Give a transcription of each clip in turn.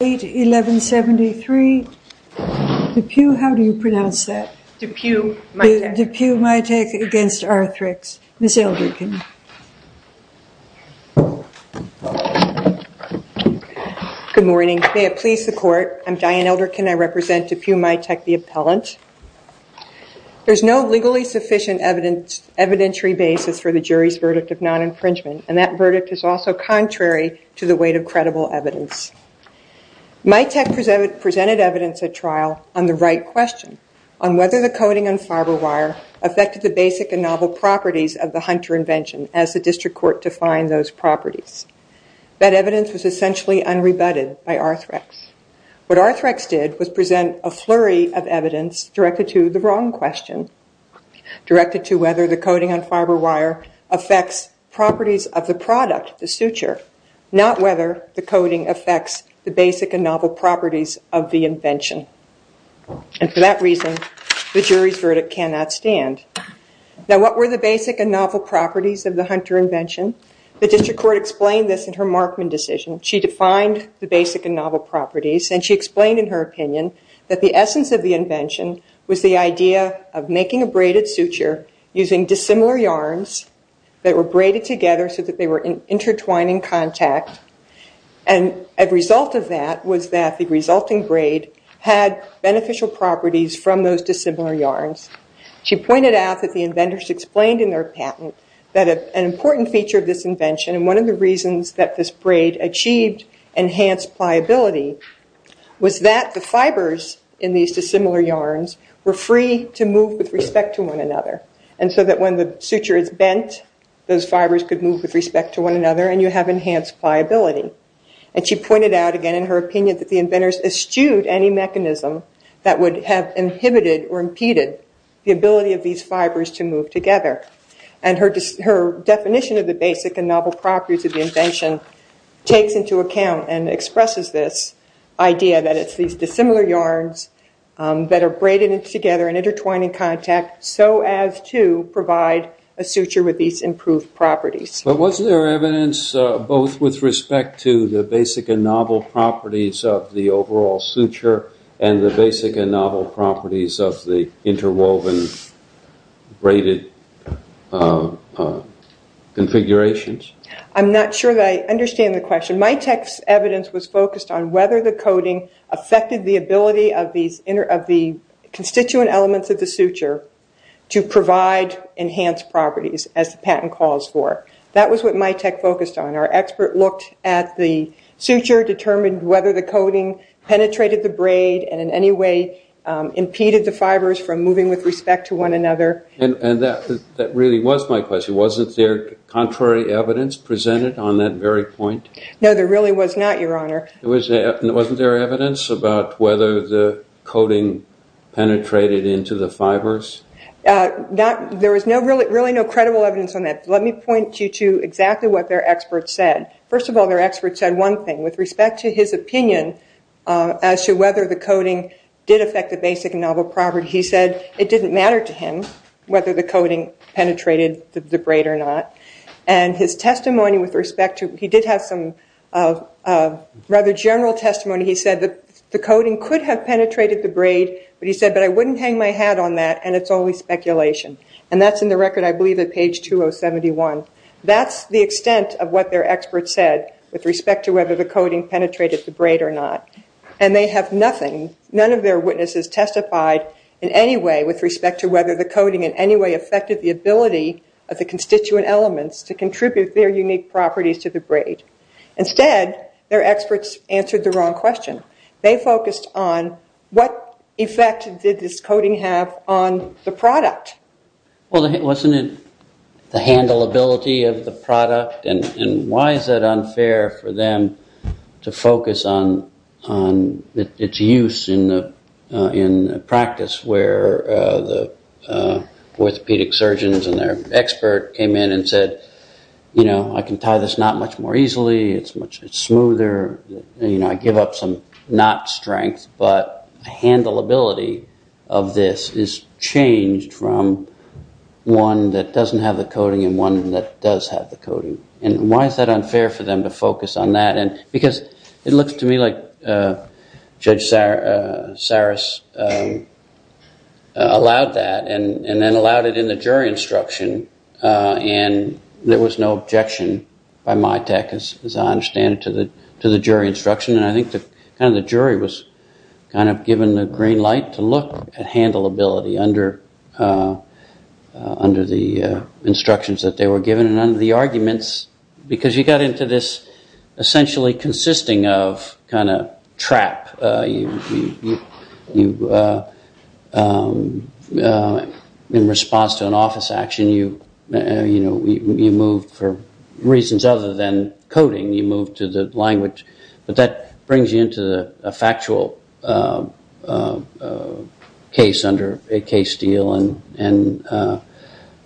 May it please the court, I'm Diane Elderkin, I represent Dupuy Mitek the appellant. There's no legally sufficient evidentiary basis for the jury's verdict of non-infringement and that verdict is also contrary to the weight of credible evidence. Mitek presented evidence at trial on the right question on whether the coating on fiber wire affected the basic and novel properties of the Hunter invention as the district court defined those properties. That evidence was essentially unrebutted by Arthrex. What Arthrex did was present a flurry of evidence directed to the wrong question, directed to whether the coating on fiber wire affects properties of the product, the suture, not whether the coating affects the basic and novel properties of the invention. And for that reason the jury's verdict cannot stand. Now what were the basic and novel properties of the Hunter invention? The district court explained this in her Markman decision. She defined the basic and novel properties and she explained in her opinion that the using dissimilar yarns that were braided together so that they were in intertwining contact and a result of that was that the resulting braid had beneficial properties from those dissimilar yarns. She pointed out that the inventors explained in their patent that an important feature of this invention and one of the reasons that this braid achieved enhanced pliability was that the fibers in these dissimilar yarns were free to move with respect to one another. And so that when the suture is bent those fibers could move with respect to one another and you have enhanced pliability. And she pointed out again in her opinion that the inventors eschewed any mechanism that would have inhibited or impeded the ability of these fibers to move together. And her definition of the basic and novel properties of the invention takes into account and expresses this idea that it's these dissimilar yarns that are braided together in intertwining contact so as to provide a suture with these improved properties. But wasn't there evidence both with respect to the basic and novel properties of the overall suture and the basic and novel properties of the interwoven braided configurations? I'm not sure that I understand the question. My text's evidence was focused on whether the coating affected the ability of the constituent elements of the suture to provide enhanced properties as the patent calls for. That was what my text focused on. Our expert looked at the suture, determined whether the coating penetrated the braid and in any way impeded the fibers from moving with respect to one another. And that really was my question. Wasn't there contrary evidence presented on that very point? No, there really was not, Your Honor. Wasn't there evidence about whether the coating penetrated into the fibers? There was really no credible evidence on that. Let me point you to exactly what their expert said. First of all, their expert said one thing with respect to his opinion as to whether the coating did affect the basic and novel property. He said it didn't matter to him whether the coating penetrated the braid or not. And his testimony with respect to, he did have some rather general testimony. He said that the coating could have penetrated the braid, but he said, but I wouldn't hang my hat on that and it's always speculation. And that's in the record, I believe, at page 2071. That's the extent of what their expert said with respect to whether the coating penetrated the braid or not. And they have nothing, none of their witnesses testified in any way with respect to whether the coating in any way affected the ability of the constituent elements to contribute their unique properties to the braid. Instead, their experts answered the wrong question. They focused on what effect did this coating have on the product? Well, wasn't it the handleability of the product? And why is it unfair for them to focus on its use in practice where the orthopedic surgeons and their expert came in and said, you know, I can tie this knot much more easily, it's much smoother, you know, I give up some knot strength, but the handleability of this is changed from one that doesn't have the coating and one that does have the coating. And why is that unfair for them to focus on that? Because it looks to me like Judge Saris allowed that and then allowed it in the jury instruction and there was no objection by my tech, as I understand it, to the jury instruction. And I think the jury was kind of given the green light to look at handleability under the instructions that they were given and under the arguments because you got into this essentially consisting of kind of trap, in response to an office action, you moved for reasons other than coating, you moved to the language. But that brings you into a factual case under a case deal and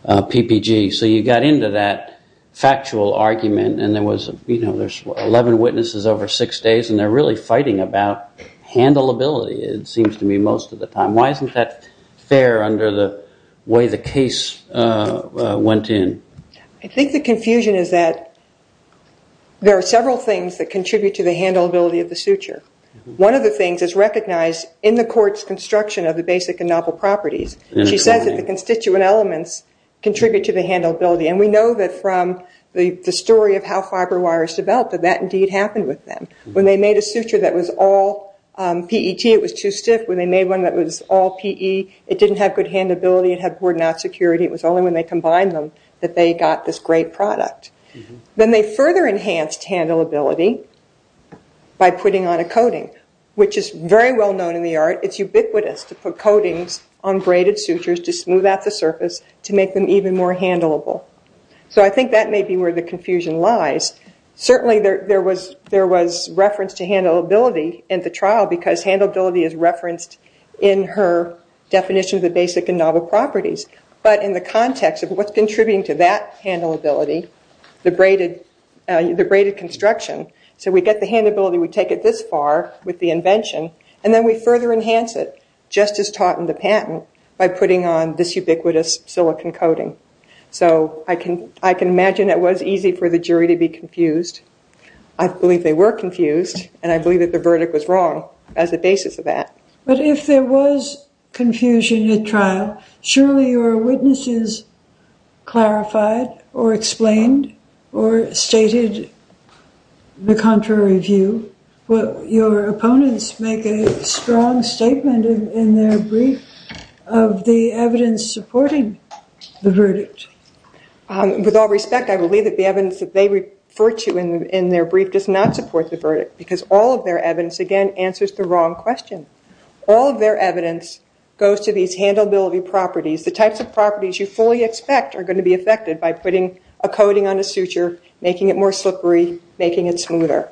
PPG. So you got into that factual argument and there was, you know, there's 11 witnesses over six days and they're really fighting about handleability, it seems to me, most of the time. Why isn't that fair under the way the case went in? I think the confusion is that there are several things that contribute to the handleability of the suture. One of the things is recognized in the court's construction of the basic and novel properties. She says that the constituent elements contribute to the handleability and we know that from the story of how fiber wires developed that that indeed happened with them. When they made a suture that was all PET, it was too stiff. When they made one that was all PE, it didn't have good handleability, it had poor knot security. It was only when they combined them that they got this great product. Then they further enhanced handleability by putting on a coating, which is very well known in the art. It's ubiquitous to put coatings on braided sutures to smooth out the surface to make them even more handleable. So I think that may be where the confusion lies. in her definition of the basic and novel properties, but in the context of what's contributing to that handleability, the braided construction. So we get the handleability, we take it this far with the invention, and then we further enhance it just as taught in the patent by putting on this ubiquitous silicon coating. So I can imagine it was easy for the jury to be confused. I believe they were confused and I believe that the verdict was wrong as a basis of that. But if there was confusion at trial, surely your witnesses clarified or explained or stated the contrary view. Your opponents make a strong statement in their brief of the evidence supporting the verdict. With all respect, I believe that the evidence that they refer to in their brief does not answer the wrong question. All of their evidence goes to these handleability properties. The types of properties you fully expect are going to be affected by putting a coating on a suture, making it more slippery, making it smoother.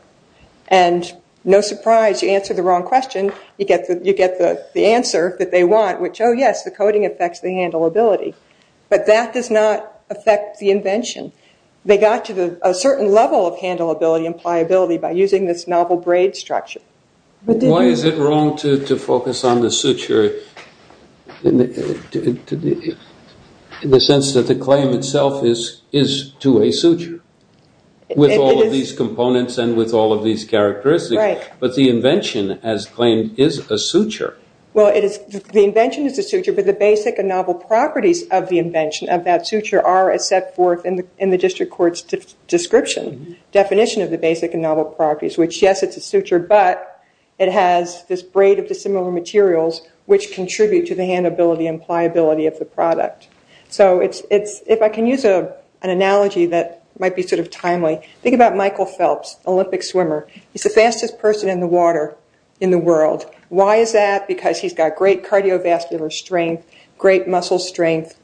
And no surprise, you answer the wrong question, you get the answer that they want, which, oh yes, the coating affects the handleability. But that does not affect the invention. They got to a certain level of handleability and pliability by using this novel braid structure. Why is it wrong to focus on the suture in the sense that the claim itself is to a suture? With all of these components and with all of these characteristics. But the invention, as claimed, is a suture. Well, the invention is a suture, but the basic and novel properties of the invention of that suture are as set forth in the district court's description, definition of the basic and novel properties. Which, yes, it's a suture, but it has this braid of dissimilar materials which contribute to the handleability and pliability of the product. So if I can use an analogy that might be sort of timely, think about Michael Phelps, Olympic swimmer. He's the fastest person in the water in the world. Why is that? Because he's got great cardiovascular strength, great muscle strength,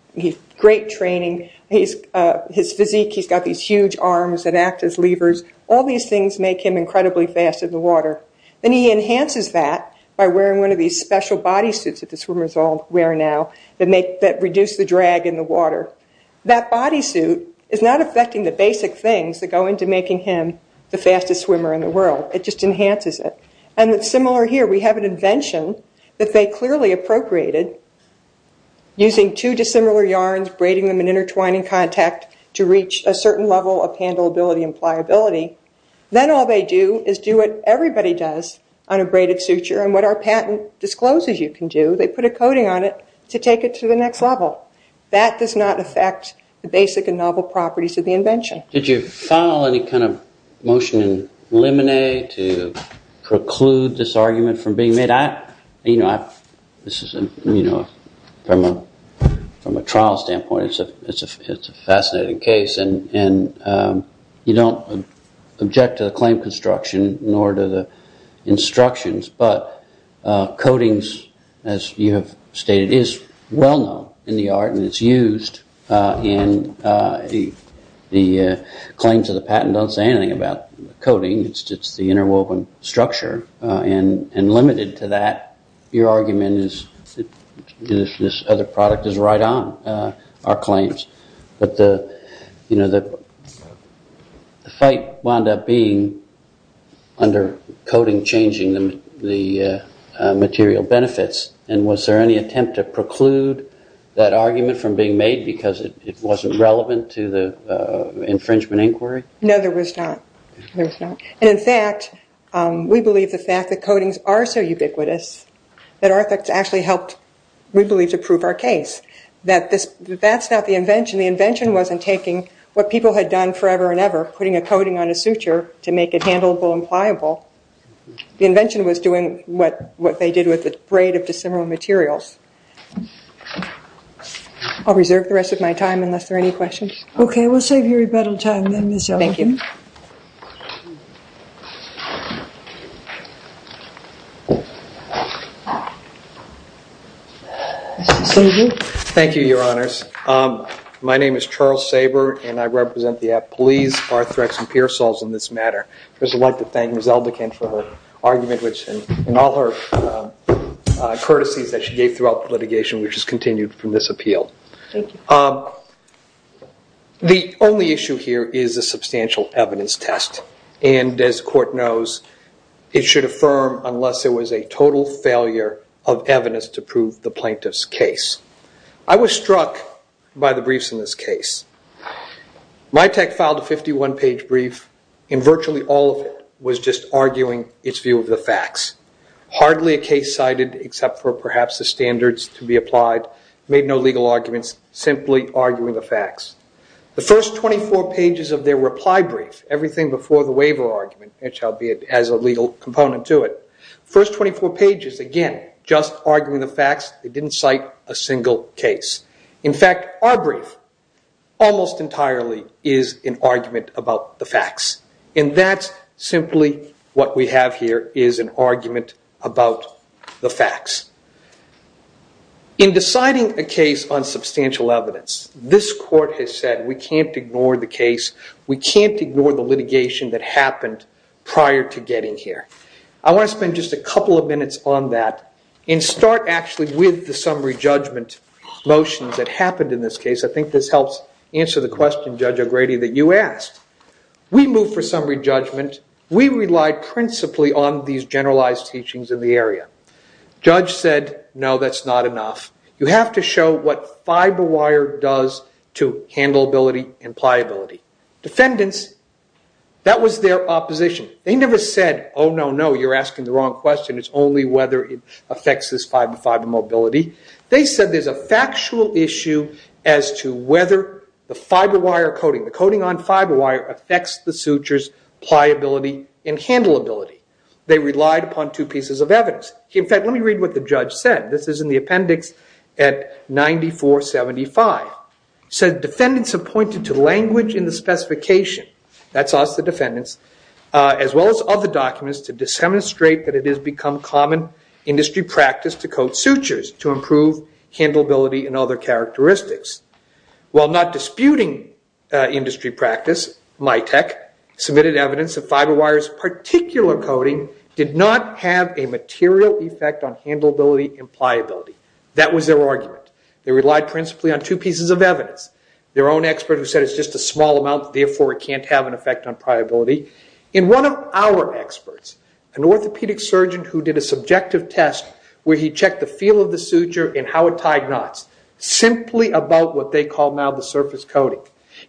great training. His physique, he's got these huge arms that act as levers. All these things make him incredibly fast in the water. And he enhances that by wearing one of these special body suits that the swimmers all wear now that reduce the drag in the water. That body suit is not affecting the basic things that go into making him the fastest swimmer in the world. It just enhances it. And it's similar here. We have an invention that they clearly appropriated using two dissimilar yarns, braiding them and intertwining contact to reach a certain level of handleability and pliability. Then all they do is do what everybody does on a braided suture and what our patent discloses you can do. They put a coating on it to take it to the next level. That does not affect the basic and novel properties of the invention. Did you file any kind of motion in Lemonet to preclude this argument from being made? From a trial standpoint, it's a fascinating case and you don't object to the claim construction nor to the instructions, but coatings, as you have stated, is well known in the art and it's used and the claims of the patent don't say anything about coating. It's just the interwoven structure and limited to that, your argument is that this other product is right on our claims. But the fight wound up being under coating changing the material benefits and was there any attempt to preclude that argument from being made because it wasn't relevant to the infringement inquiry? No, there was not. There was not. And in fact, we believe the fact that coatings are so ubiquitous that our effects actually helped, we believe, to prove our case. That's not the invention. The invention wasn't taking what people had done forever and ever, putting a coating on a suture to make it handleable and pliable, the invention was doing what they did with the braid of dissimilar materials. I'll reserve the rest of my time unless there are any questions. Okay, we'll save you rebuttal time then, Ms. Eldican. Thank you. Thank you, your honors. My name is Charles Saber and I represent the Appalese, Arthrex, and Pearsalls in this matter. First, I'd like to thank Ms. Eldican for her argument, which in all her courtesies that she gave throughout the litigation, which has continued from this appeal. Thank you. The only issue here is a substantial evidence test, and as the court knows, it should affirm unless there was a total failure of evidence to prove the plaintiff's case. I was struck by the briefs in this case. My tech filed a 51-page brief and virtually all of it was just arguing its view of the facts. Hardly a case cited except for perhaps the standards to be applied, made no legal arguments, simply arguing the facts. The first 24 pages of their reply brief, everything before the waiver argument, it shall be as a legal component to it. First 24 pages, again, just arguing the facts, they didn't cite a single case. In fact, our brief almost entirely is an argument about the facts, and that's simply what we have here is an argument about the facts. In deciding a case on substantial evidence, this court has said we can't ignore the case, we can't ignore the litigation that happened prior to getting here. I want to spend just a couple of minutes on that and start actually with the summary judgment motions that happened in this case. I think this helps answer the question, Judge O'Grady, that you asked. We moved for summary judgment. We relied principally on these generalized teachings in the area. Judge said, no, that's not enough. You have to show what fiber wire does to handleability and pliability. Defendants, that was their opposition. They never said, oh, no, no, you're asking the wrong question. It's only whether it affects this fiber mobility. They said there's a factual issue as to whether the fiber wire coating, the coating on fiber wire affects the suture's pliability and handleability. They relied upon two pieces of evidence. In fact, let me read what the judge said. This is in the appendix at 9475. It said defendants have pointed to language in the specification, that's us, the defendants, as well as other documents to demonstrate that it has become common industry practice to coat sutures to improve handleability and other characteristics. While not disputing industry practice, MITEC submitted evidence that fiber wire's particular coating did not have a material effect on handleability and pliability. That was their argument. They relied principally on two pieces of evidence. Their own expert who said it's just a small amount, therefore it can't have an effect on pliability. One of our experts, an orthopedic surgeon who did a subjective test where he checked the feel of the suture and how it tied knots, simply about what they call now the surface coating.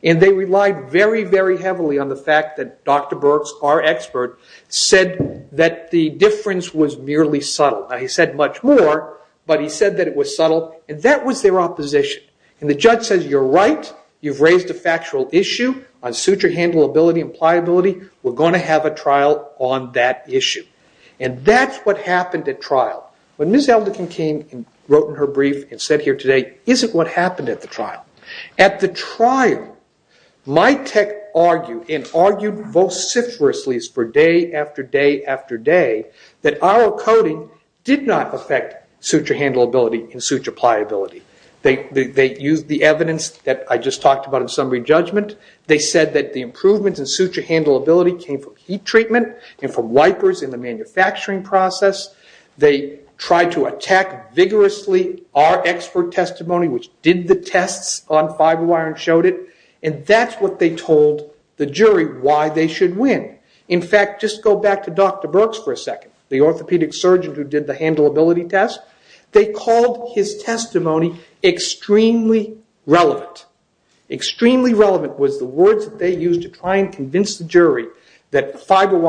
They relied very heavily on the fact that Dr. Burks, our expert, said that the difference was merely subtle. He said much more, but he said that it was subtle. That was their opposition. The judge said, you're right, you've raised a factual issue on suture handleability and pliability. We're going to have a trial on that issue. That's what happened at trial. When Ms. Eldikin came and wrote in her brief and sat here today, isn't what happened at the trial. At the trial, my tech argued and argued vociferously for day after day after day that our coating did not affect suture handleability and suture pliability. They used the evidence that I just talked about in summary judgment. They said that the improvements in suture handleability came from heat treatment and from wipers in the manufacturing process. They tried to attack vigorously our expert testimony, which did the tests on fiber wire and showed it. That's what they told the jury why they should win. In fact, just go back to Dr. Burks for a second, the orthopedic surgeon who did the handleability test. They called his testimony extremely relevant. Extremely relevant was the words that they used to try and convince the jury that fiber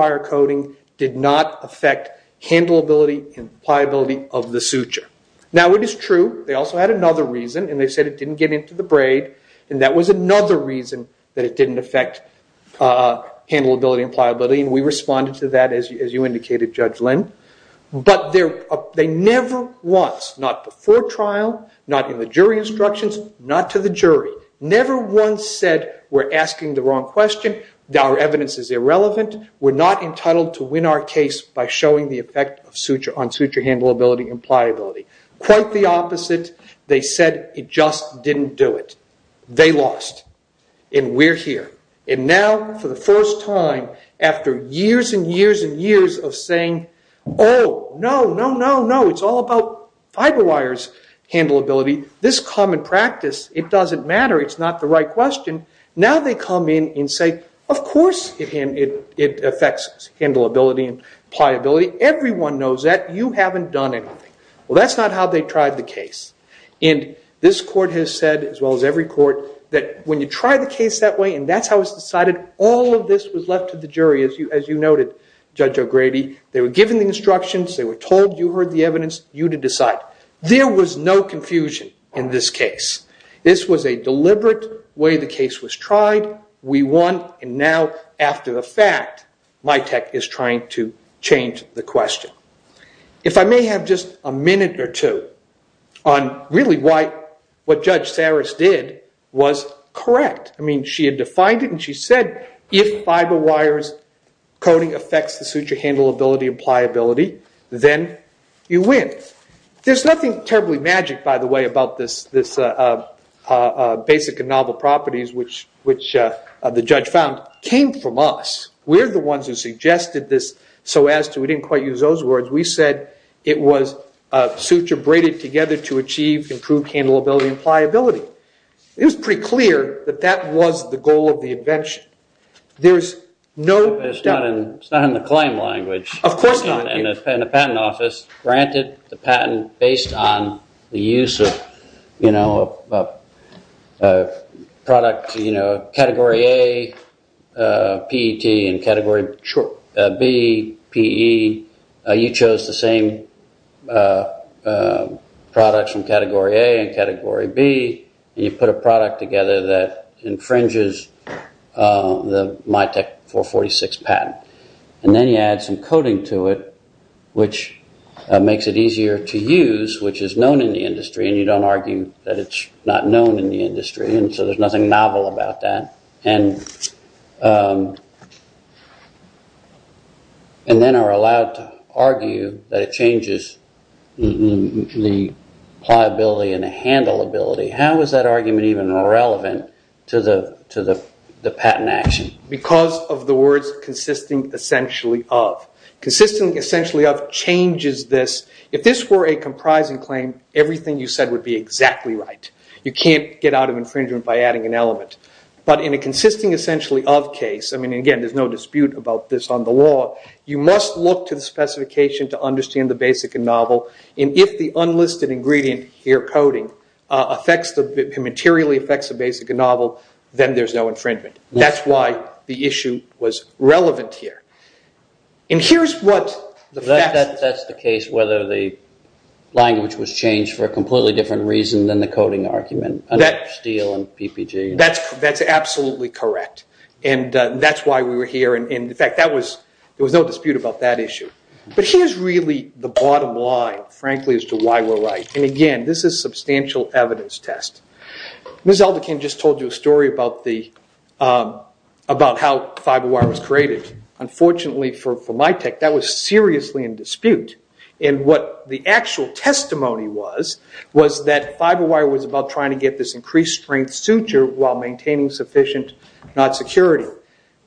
pliability of the suture. Now, it is true. They also had another reason. They said it didn't get into the braid. That was another reason that it didn't affect handleability and pliability. We responded to that, as you indicated, Judge Lynn. They never once, not before trial, not in the jury instructions, not to the jury, never once said, we're asking the wrong question. Our evidence is irrelevant. We're not entitled to win our case by showing the effect on suture handleability and pliability. Quite the opposite. They said it just didn't do it. They lost. And we're here. And now, for the first time, after years and years and years of saying, oh, no, no, no, no, it's all about fiber wires handleability. This common practice, it doesn't matter. It's not the right question. Now they come in and say, of course it affects handleability and pliability. Everyone knows that. You haven't done anything. Well, that's not how they tried the case. And this court has said, as well as every court, that when you try the case that way, and that's how it's decided, all of this was left to the jury, as you noted, Judge O'Grady. They were given the instructions. They were told, you heard the evidence, you to decide. There was no confusion in this case. This was a deliberate way the case was tried. We won. And now, after the fact, MITEC is trying to change the question. If I may have just a minute or two on really what Judge Saris did was correct. I mean, she had defined it, and she said, if fiber wires coding affects the suture handleability and pliability, then you win. There's nothing terribly magic, by the way, about this basic and novel properties, which the judge found came from us. We're the ones who suggested this so as to, we didn't quite use those words, we said it was suture braided together to achieve improved handleability and pliability. It was pretty clear that that was the goal of the invention. There's no doubt. It's not in the claim language. Of course not. The patent office granted the patent based on the use of product category A, PET, and category B, PE. You chose the same products from category A and category B, and you put a product together that infringes the MITEC 446 patent. Then you add some coding to it, which makes it easier to use, which is known in the industry, and you don't argue that it's not known in the industry. So there's nothing novel about that. Then are allowed to argue that it changes the pliability and the handleability. How is that argument even relevant to the patent action? Because of the words consisting essentially of. Consisting essentially of changes this. If this were a comprising claim, everything you said would be exactly right. You can't get out of infringement by adding an element. But in a consisting essentially of case, and again, there's no dispute about this on the law, you must look to the specification to understand the basic and novel, and if the unlisted ingredient here, coding, materially affects the basic and novel, then there's no infringement. That's why the issue was relevant here. That's the case whether the language was changed for a completely different reason than the coding argument. That's absolutely correct, and that's why we were here. In fact, there was no dispute about that issue. But here's really the bottom line, frankly, as to why we're right, and again, this is a substantial evidence test. Ms. Alderkin just told you a story about how Fiber Wire was created. Unfortunately, for my tech, that was seriously in dispute. And what the actual testimony was, was that Fiber Wire was about trying to get this increased strength suture while maintaining sufficient knot security.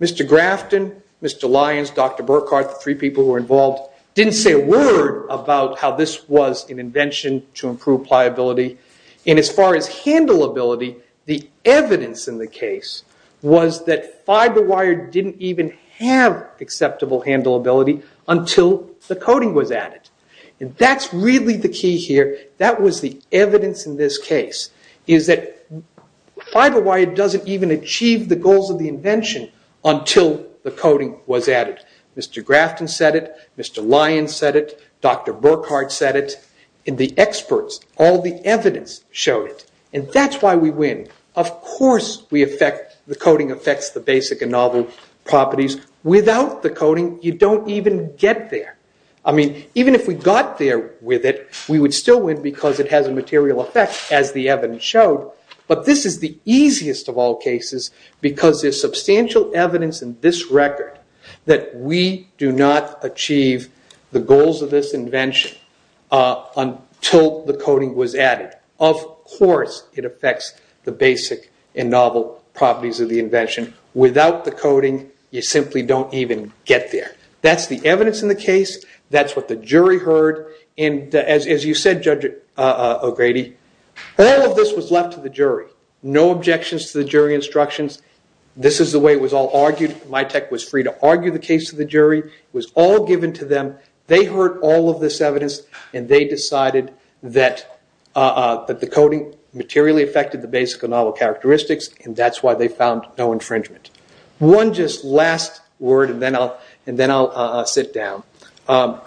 Mr. Grafton, Mr. Lyons, Dr. Burkhart, the three people who were involved, didn't say a word about how this was an invention to improve pliability. And as far as handleability, the evidence in the case was that Fiber Wire didn't even have acceptable handleability until the coding was added. And that's really the key here. That was the evidence in this case, is that Fiber Wire doesn't even achieve the goals of the invention until the coding was added. Mr. Grafton said it, Mr. Lyons said it, Dr. Burkhart said it, and the experts, all the evidence showed it. And that's why we win. Of course the coding affects the basic and novel properties. Without the coding, you don't even get there. I mean, even if we got there with it, we would still win because it has a material effect, as the evidence showed. But this is the easiest of all cases, because there's substantial evidence in this record that we do not achieve the goals of this invention until the coding was added. Of course it affects the basic and novel properties of the invention. Without the coding, you simply don't even get there. That's the evidence in the case. That's what the jury heard. And as you said, Judge O'Grady, all of this was left to the jury. No objections to the jury instructions. This is the way it was all argued. MITEC was free to argue the case to the jury. It was all given to them. They heard all of this evidence, and they decided that the coding materially affected the basic and novel characteristics, and that's why they found no infringement. One just last word, and then I'll sit down.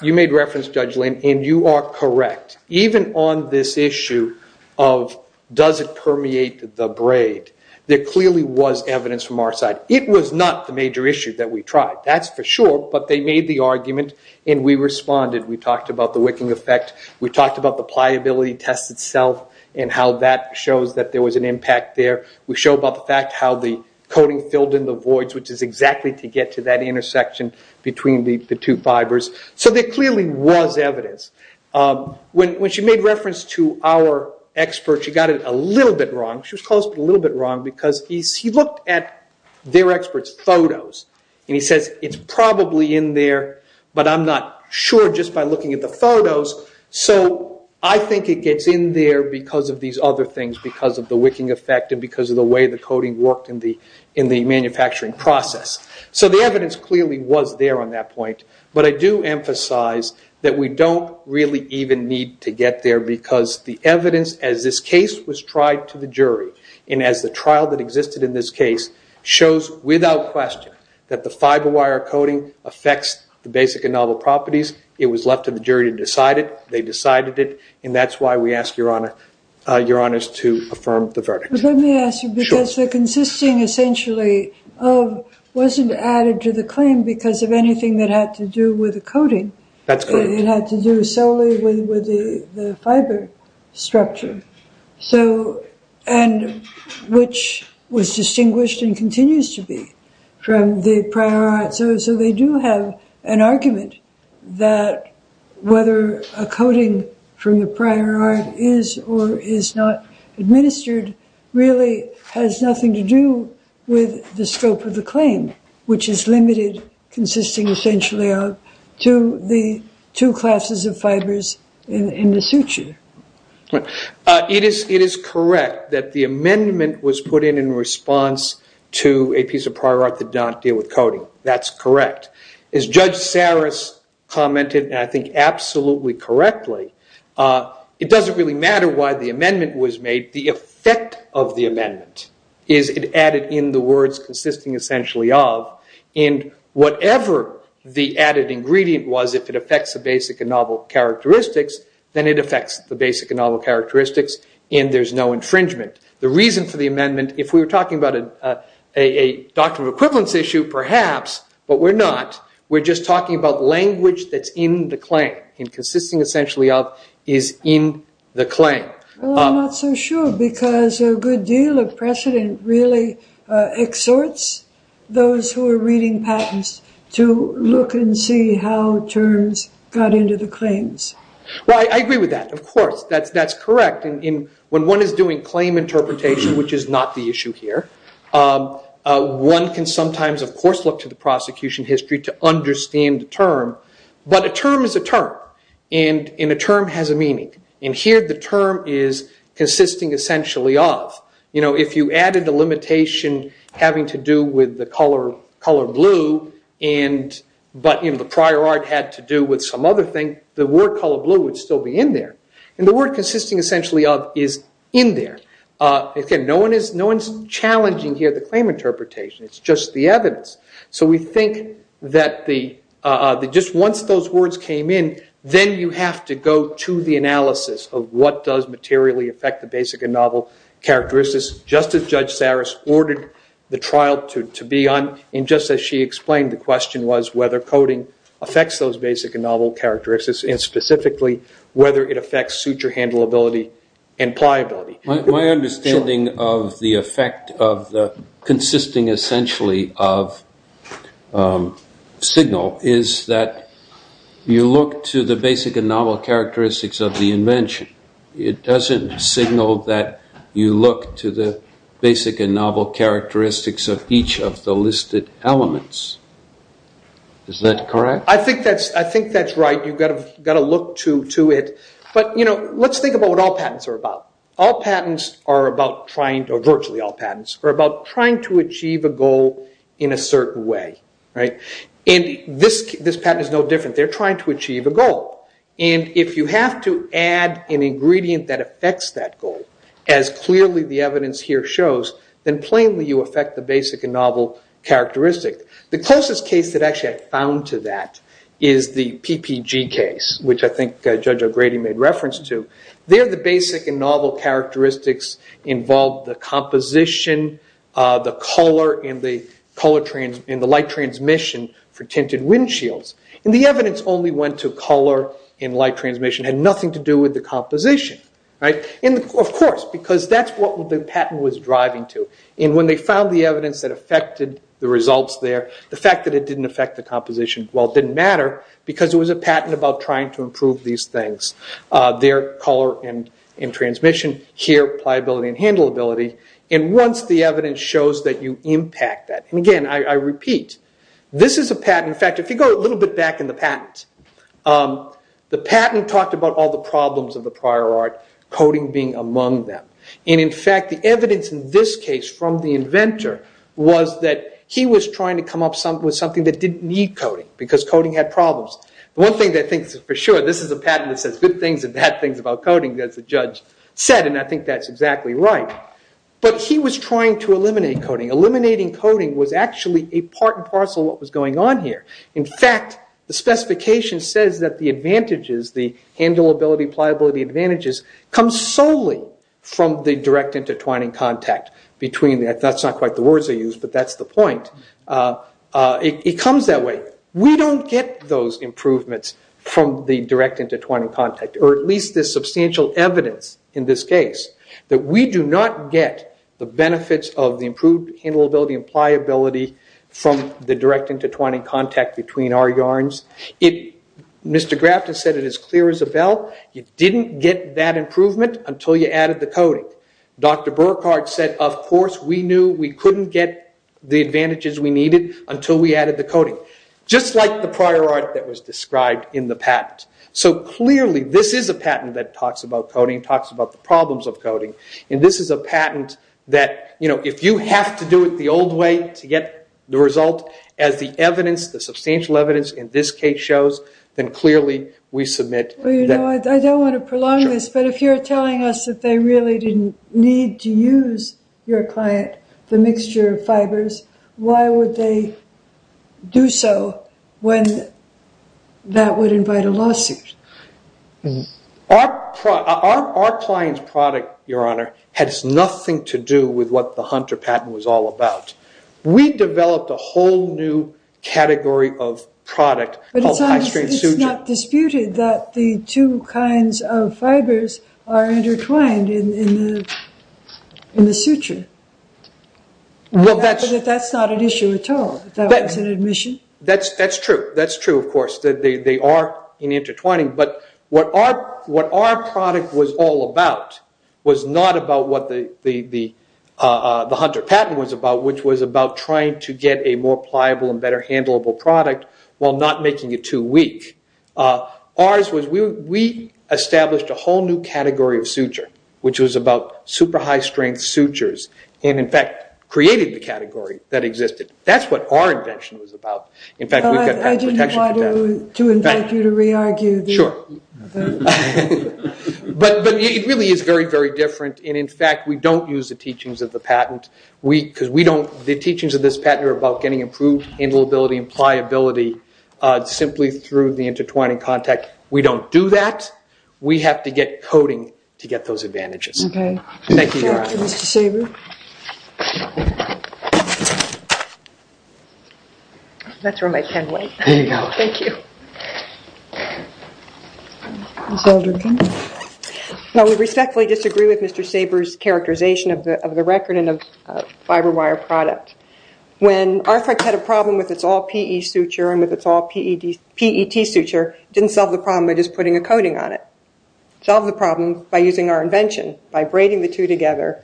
You made reference, Judge Lane, and you are correct. Even on this issue of does it permeate the braid, there clearly was evidence from our side. It was not the major issue that we tried, that's for sure, but they made the argument and we responded. We talked about the wicking effect. We talked about the pliability test itself and how that shows that there was an impact there. We showed about the fact how the coding filled in the voids, which is exactly to get to that intersection between the two fibers. So there clearly was evidence. When she made reference to our experts, she got it a little bit wrong. She was close, but a little bit wrong, because he looked at their experts' photos, and he says it's probably in there, but I'm not sure just by looking at the photos, so I think it gets in there because of these other things, because of the wicking effect and because of the way the coding worked in the manufacturing process. So the evidence clearly was there on that point, but I do emphasize that we don't really even need to get there because the evidence as this case was tried to the jury and as the trial that existed in this case shows without question that the fiber wire coding affects the basic and novel properties. It was left to the jury to decide it. They decided it, and that's why we ask Your Honor's to affirm the verdict. Let me ask you, because the consisting essentially wasn't added to the claim because of anything that had to do with the coding. That's correct. It had to do solely with the fiber structure, which was distinguished and continues to be from the prior art. So they do have an argument that whether a coding from the prior art is or is not administered really has nothing to do with the scope of the claim, which is limited consisting essentially of two classes of fibers in the suture. It is correct that the amendment was put in in response to a piece of prior art that did not deal with coding. That's correct. As Judge Saris commented, and I think absolutely correctly, it doesn't really matter why the amendment was made. The effect of the amendment is it added in the words consisting essentially of, and whatever the added ingredient was, if it affects the basic and novel characteristics, then it affects the basic and novel characteristics, and there's no infringement. The reason for the amendment, if we were talking about a doctrine of equivalence issue perhaps, but we're not, we're just talking about language that's in the claim, and consisting essentially of is in the claim. Well, I'm not so sure, because a good deal of precedent really exhorts those who are reading patents to look and see how terms got into the claims. Well, I agree with that, of course. That's correct. When one is doing claim interpretation, which is not the issue here, one can sometimes, of course, look to the prosecution history to understand the term. But a term is a term, and a term has a meaning. And here the term is consisting essentially of. If you added a limitation having to do with the color blue, but the prior art had to do with some other thing, the word color blue would still be in there. And the word consisting essentially of is in there. Again, no one is challenging here the claim interpretation. It's just the evidence. So we think that just once those words came in, then you have to go to the analysis of what does materially affect the basic and novel characteristics, just as Judge Saris ordered the trial to be on. And just as she explained, the question was whether coding affects those basic and novel characteristics, and specifically whether it affects suture handleability and pliability. My understanding of the effect of the consisting essentially of signal is that you look to the basic and novel characteristics of the invention. It doesn't signal that you look to the basic and novel characteristics of each of the listed elements. Is that correct? I think that's right. You've got to look to it. But let's think about what all patents are about. Virtually all patents are about trying to achieve a goal in a certain way. And this patent is no different. They're trying to achieve a goal. And if you have to add an ingredient that affects that goal, as clearly the evidence here shows, then plainly you affect the basic and novel characteristic. The closest case that actually I found to that is the PPG case, which I think Judge O'Grady made reference to. There the basic and novel characteristics involve the composition, the color, and the light transmission for tinted windshields. And the evidence only went to color and light transmission. It had nothing to do with the composition. Of course, because that's what the patent was driving to. And when they found the evidence that affected the results there, the fact that it didn't affect the composition, well, it didn't matter, because it was a patent about trying to improve these things. There, color and transmission. Here, pliability and handleability. And once the evidence shows that you impact that. And again, I repeat, this is a patent. In fact, if you go a little bit back in the patent, the patent talked about all the problems of the prior art, coding being among them. And in fact, the evidence in this case from the inventor was that he was trying to come up with something that didn't need coding, because coding had problems. One thing that I think is for sure, this is a patent that says good things and bad things about coding, as the judge said, and I think that's exactly right. But he was trying to eliminate coding. Eliminating coding was actually a part and parcel of what was going on here. In fact, the specification says that the advantages, the handleability, pliability advantages, come solely from the direct intertwining contact. That's not quite the words I used, but that's the point. It comes that way. We don't get those improvements from the direct intertwining contact, or at least the substantial evidence in this case, that we do not get the benefits of the improved handleability and pliability from the direct intertwining contact between our yarns. Mr. Grafton said it as clear as a bell. You didn't get that improvement until you added the coding. Dr. Burkhardt said, of course, we knew we couldn't get the advantages we needed until we added the coding, just like the prior art that was described in the patent. So clearly this is a patent that talks about coding, talks about the problems of coding, and this is a patent that if you have to do it the old way to get the result, as the evidence, the substantial evidence in this case shows, then clearly we submit that. I don't want to prolong this, but if you're telling us that they really didn't need to use your client, the mixture of fibers, why would they do so when that would invite a lawsuit? Our client's product, Your Honor, has nothing to do with what the Hunter patent was all about. We developed a whole new category of product called high-strain suture. It's not disputed that the two kinds of fibers are intertwined in the suture. That's not an issue at all. That's true. That's true, of course. They are intertwined, but what our product was all about was not about what the Hunter patent was about, which was about trying to get a more pliable and better handleable product while not making it too weak. We established a whole new category of suture, which was about super high-strength sutures, and in fact created the category that existed. That's what our invention was about. I didn't want to invite you to re-argue. Sure. But it really is very, very different, and in fact we don't use the teachings of the patent because the teachings of this patent are about getting improved handleability and pliability simply through the intertwining contact. We don't do that. We have to get coding to get those advantages. Okay. Thank you, Your Honor. Thank you, Mr. Sabur. That's where my pen went. There you go. Thank you. Ms. Alderkin. We respectfully disagree with Mr. Sabur's characterization of the record and of Fiber Wire product. When Arthrex had a problem with its all-PE suture and with its all-PET suture, it didn't solve the problem by just putting a coating on it. It solved the problem by using our invention, by braiding the two together,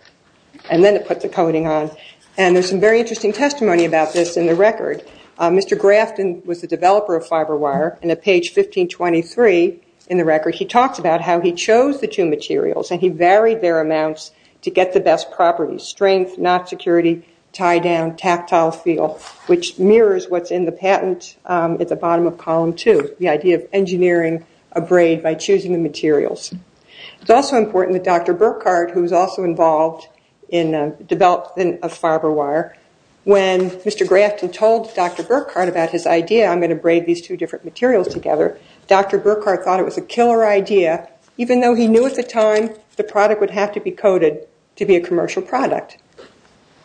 and then it put the coating on. There's some very interesting testimony about this in the record. Mr. Grafton was the developer of Fiber Wire, and at page 1523 in the record, he talks about how he chose the two materials and he varied their amounts to get the best properties, strength, knot security, tie-down, tactile feel, which mirrors what's in the patent at the bottom of column two, the idea of engineering a braid by choosing the materials. It's also important that Dr. Burkhardt, who was also involved in the development of Fiber Wire, when Mr. Grafton told Dr. Burkhardt about his idea, I'm going to braid these two different materials together, Dr. Burkhardt thought it was a killer idea, even though he knew at the time the product would have to be coded to be a commercial product,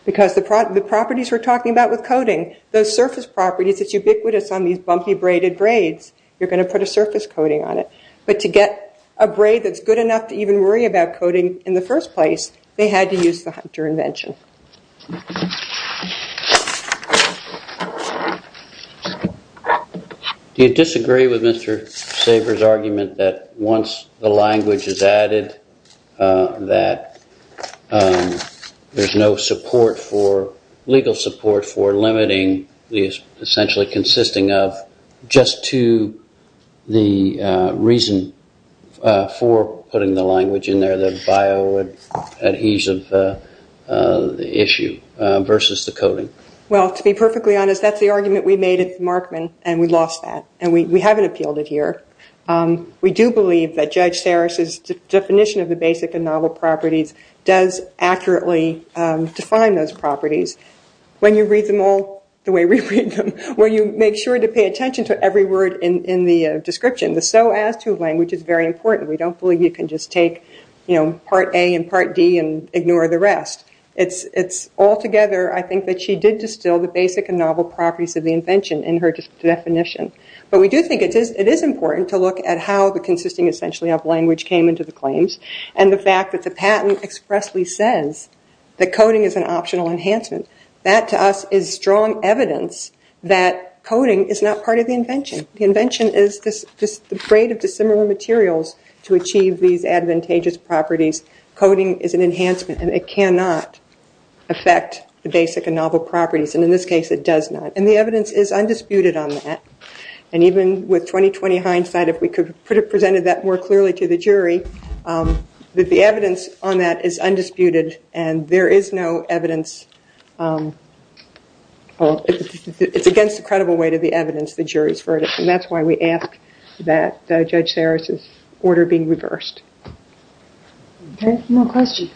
because the properties we're talking about with coating, those surface properties, it's ubiquitous on these bumpy braided braids. You're going to put a surface coating on it. But to get a braid that's good enough to even worry about coating in the first place, they had to use the Hunter invention. Do you disagree with Mr. Saver's argument that once the language is added, that there's no support for, legal support for limiting, essentially consisting of just to the reason for putting the language in there, the bioadhesive issue versus the coating? Well, to be perfectly honest, that's the argument we made at the Markman, and we lost that, and we haven't appealed it here. We do believe that Judge Sarris's definition of the basic and novel properties does accurately define those properties. When you read them all the way we read them, when you make sure to pay attention to every word in the description, the so as to language is very important. We don't believe you can just take part A and part D and ignore the rest. It's altogether, I think, that she did distill the basic and novel properties of the invention in her definition. But we do think it is important to look at how the consisting essentially of language came into the claims, and the fact that the patent expressly says that coating is an optional enhancement. That to us is strong evidence that coating is not part of the invention. The invention is just a braid of dissimilar materials to achieve these advantageous properties. Coating is an enhancement, and it cannot affect the basic and novel properties, and in this case it does not, and the evidence is undisputed on that. Even with 20-20 hindsight, if we could have presented that more clearly to the jury, the evidence on that is undisputed, and there is no evidence. It's against the credible weight of the evidence, the jury's verdict, and that's why we ask that Judge Sarris's order be reversed. Any more questions?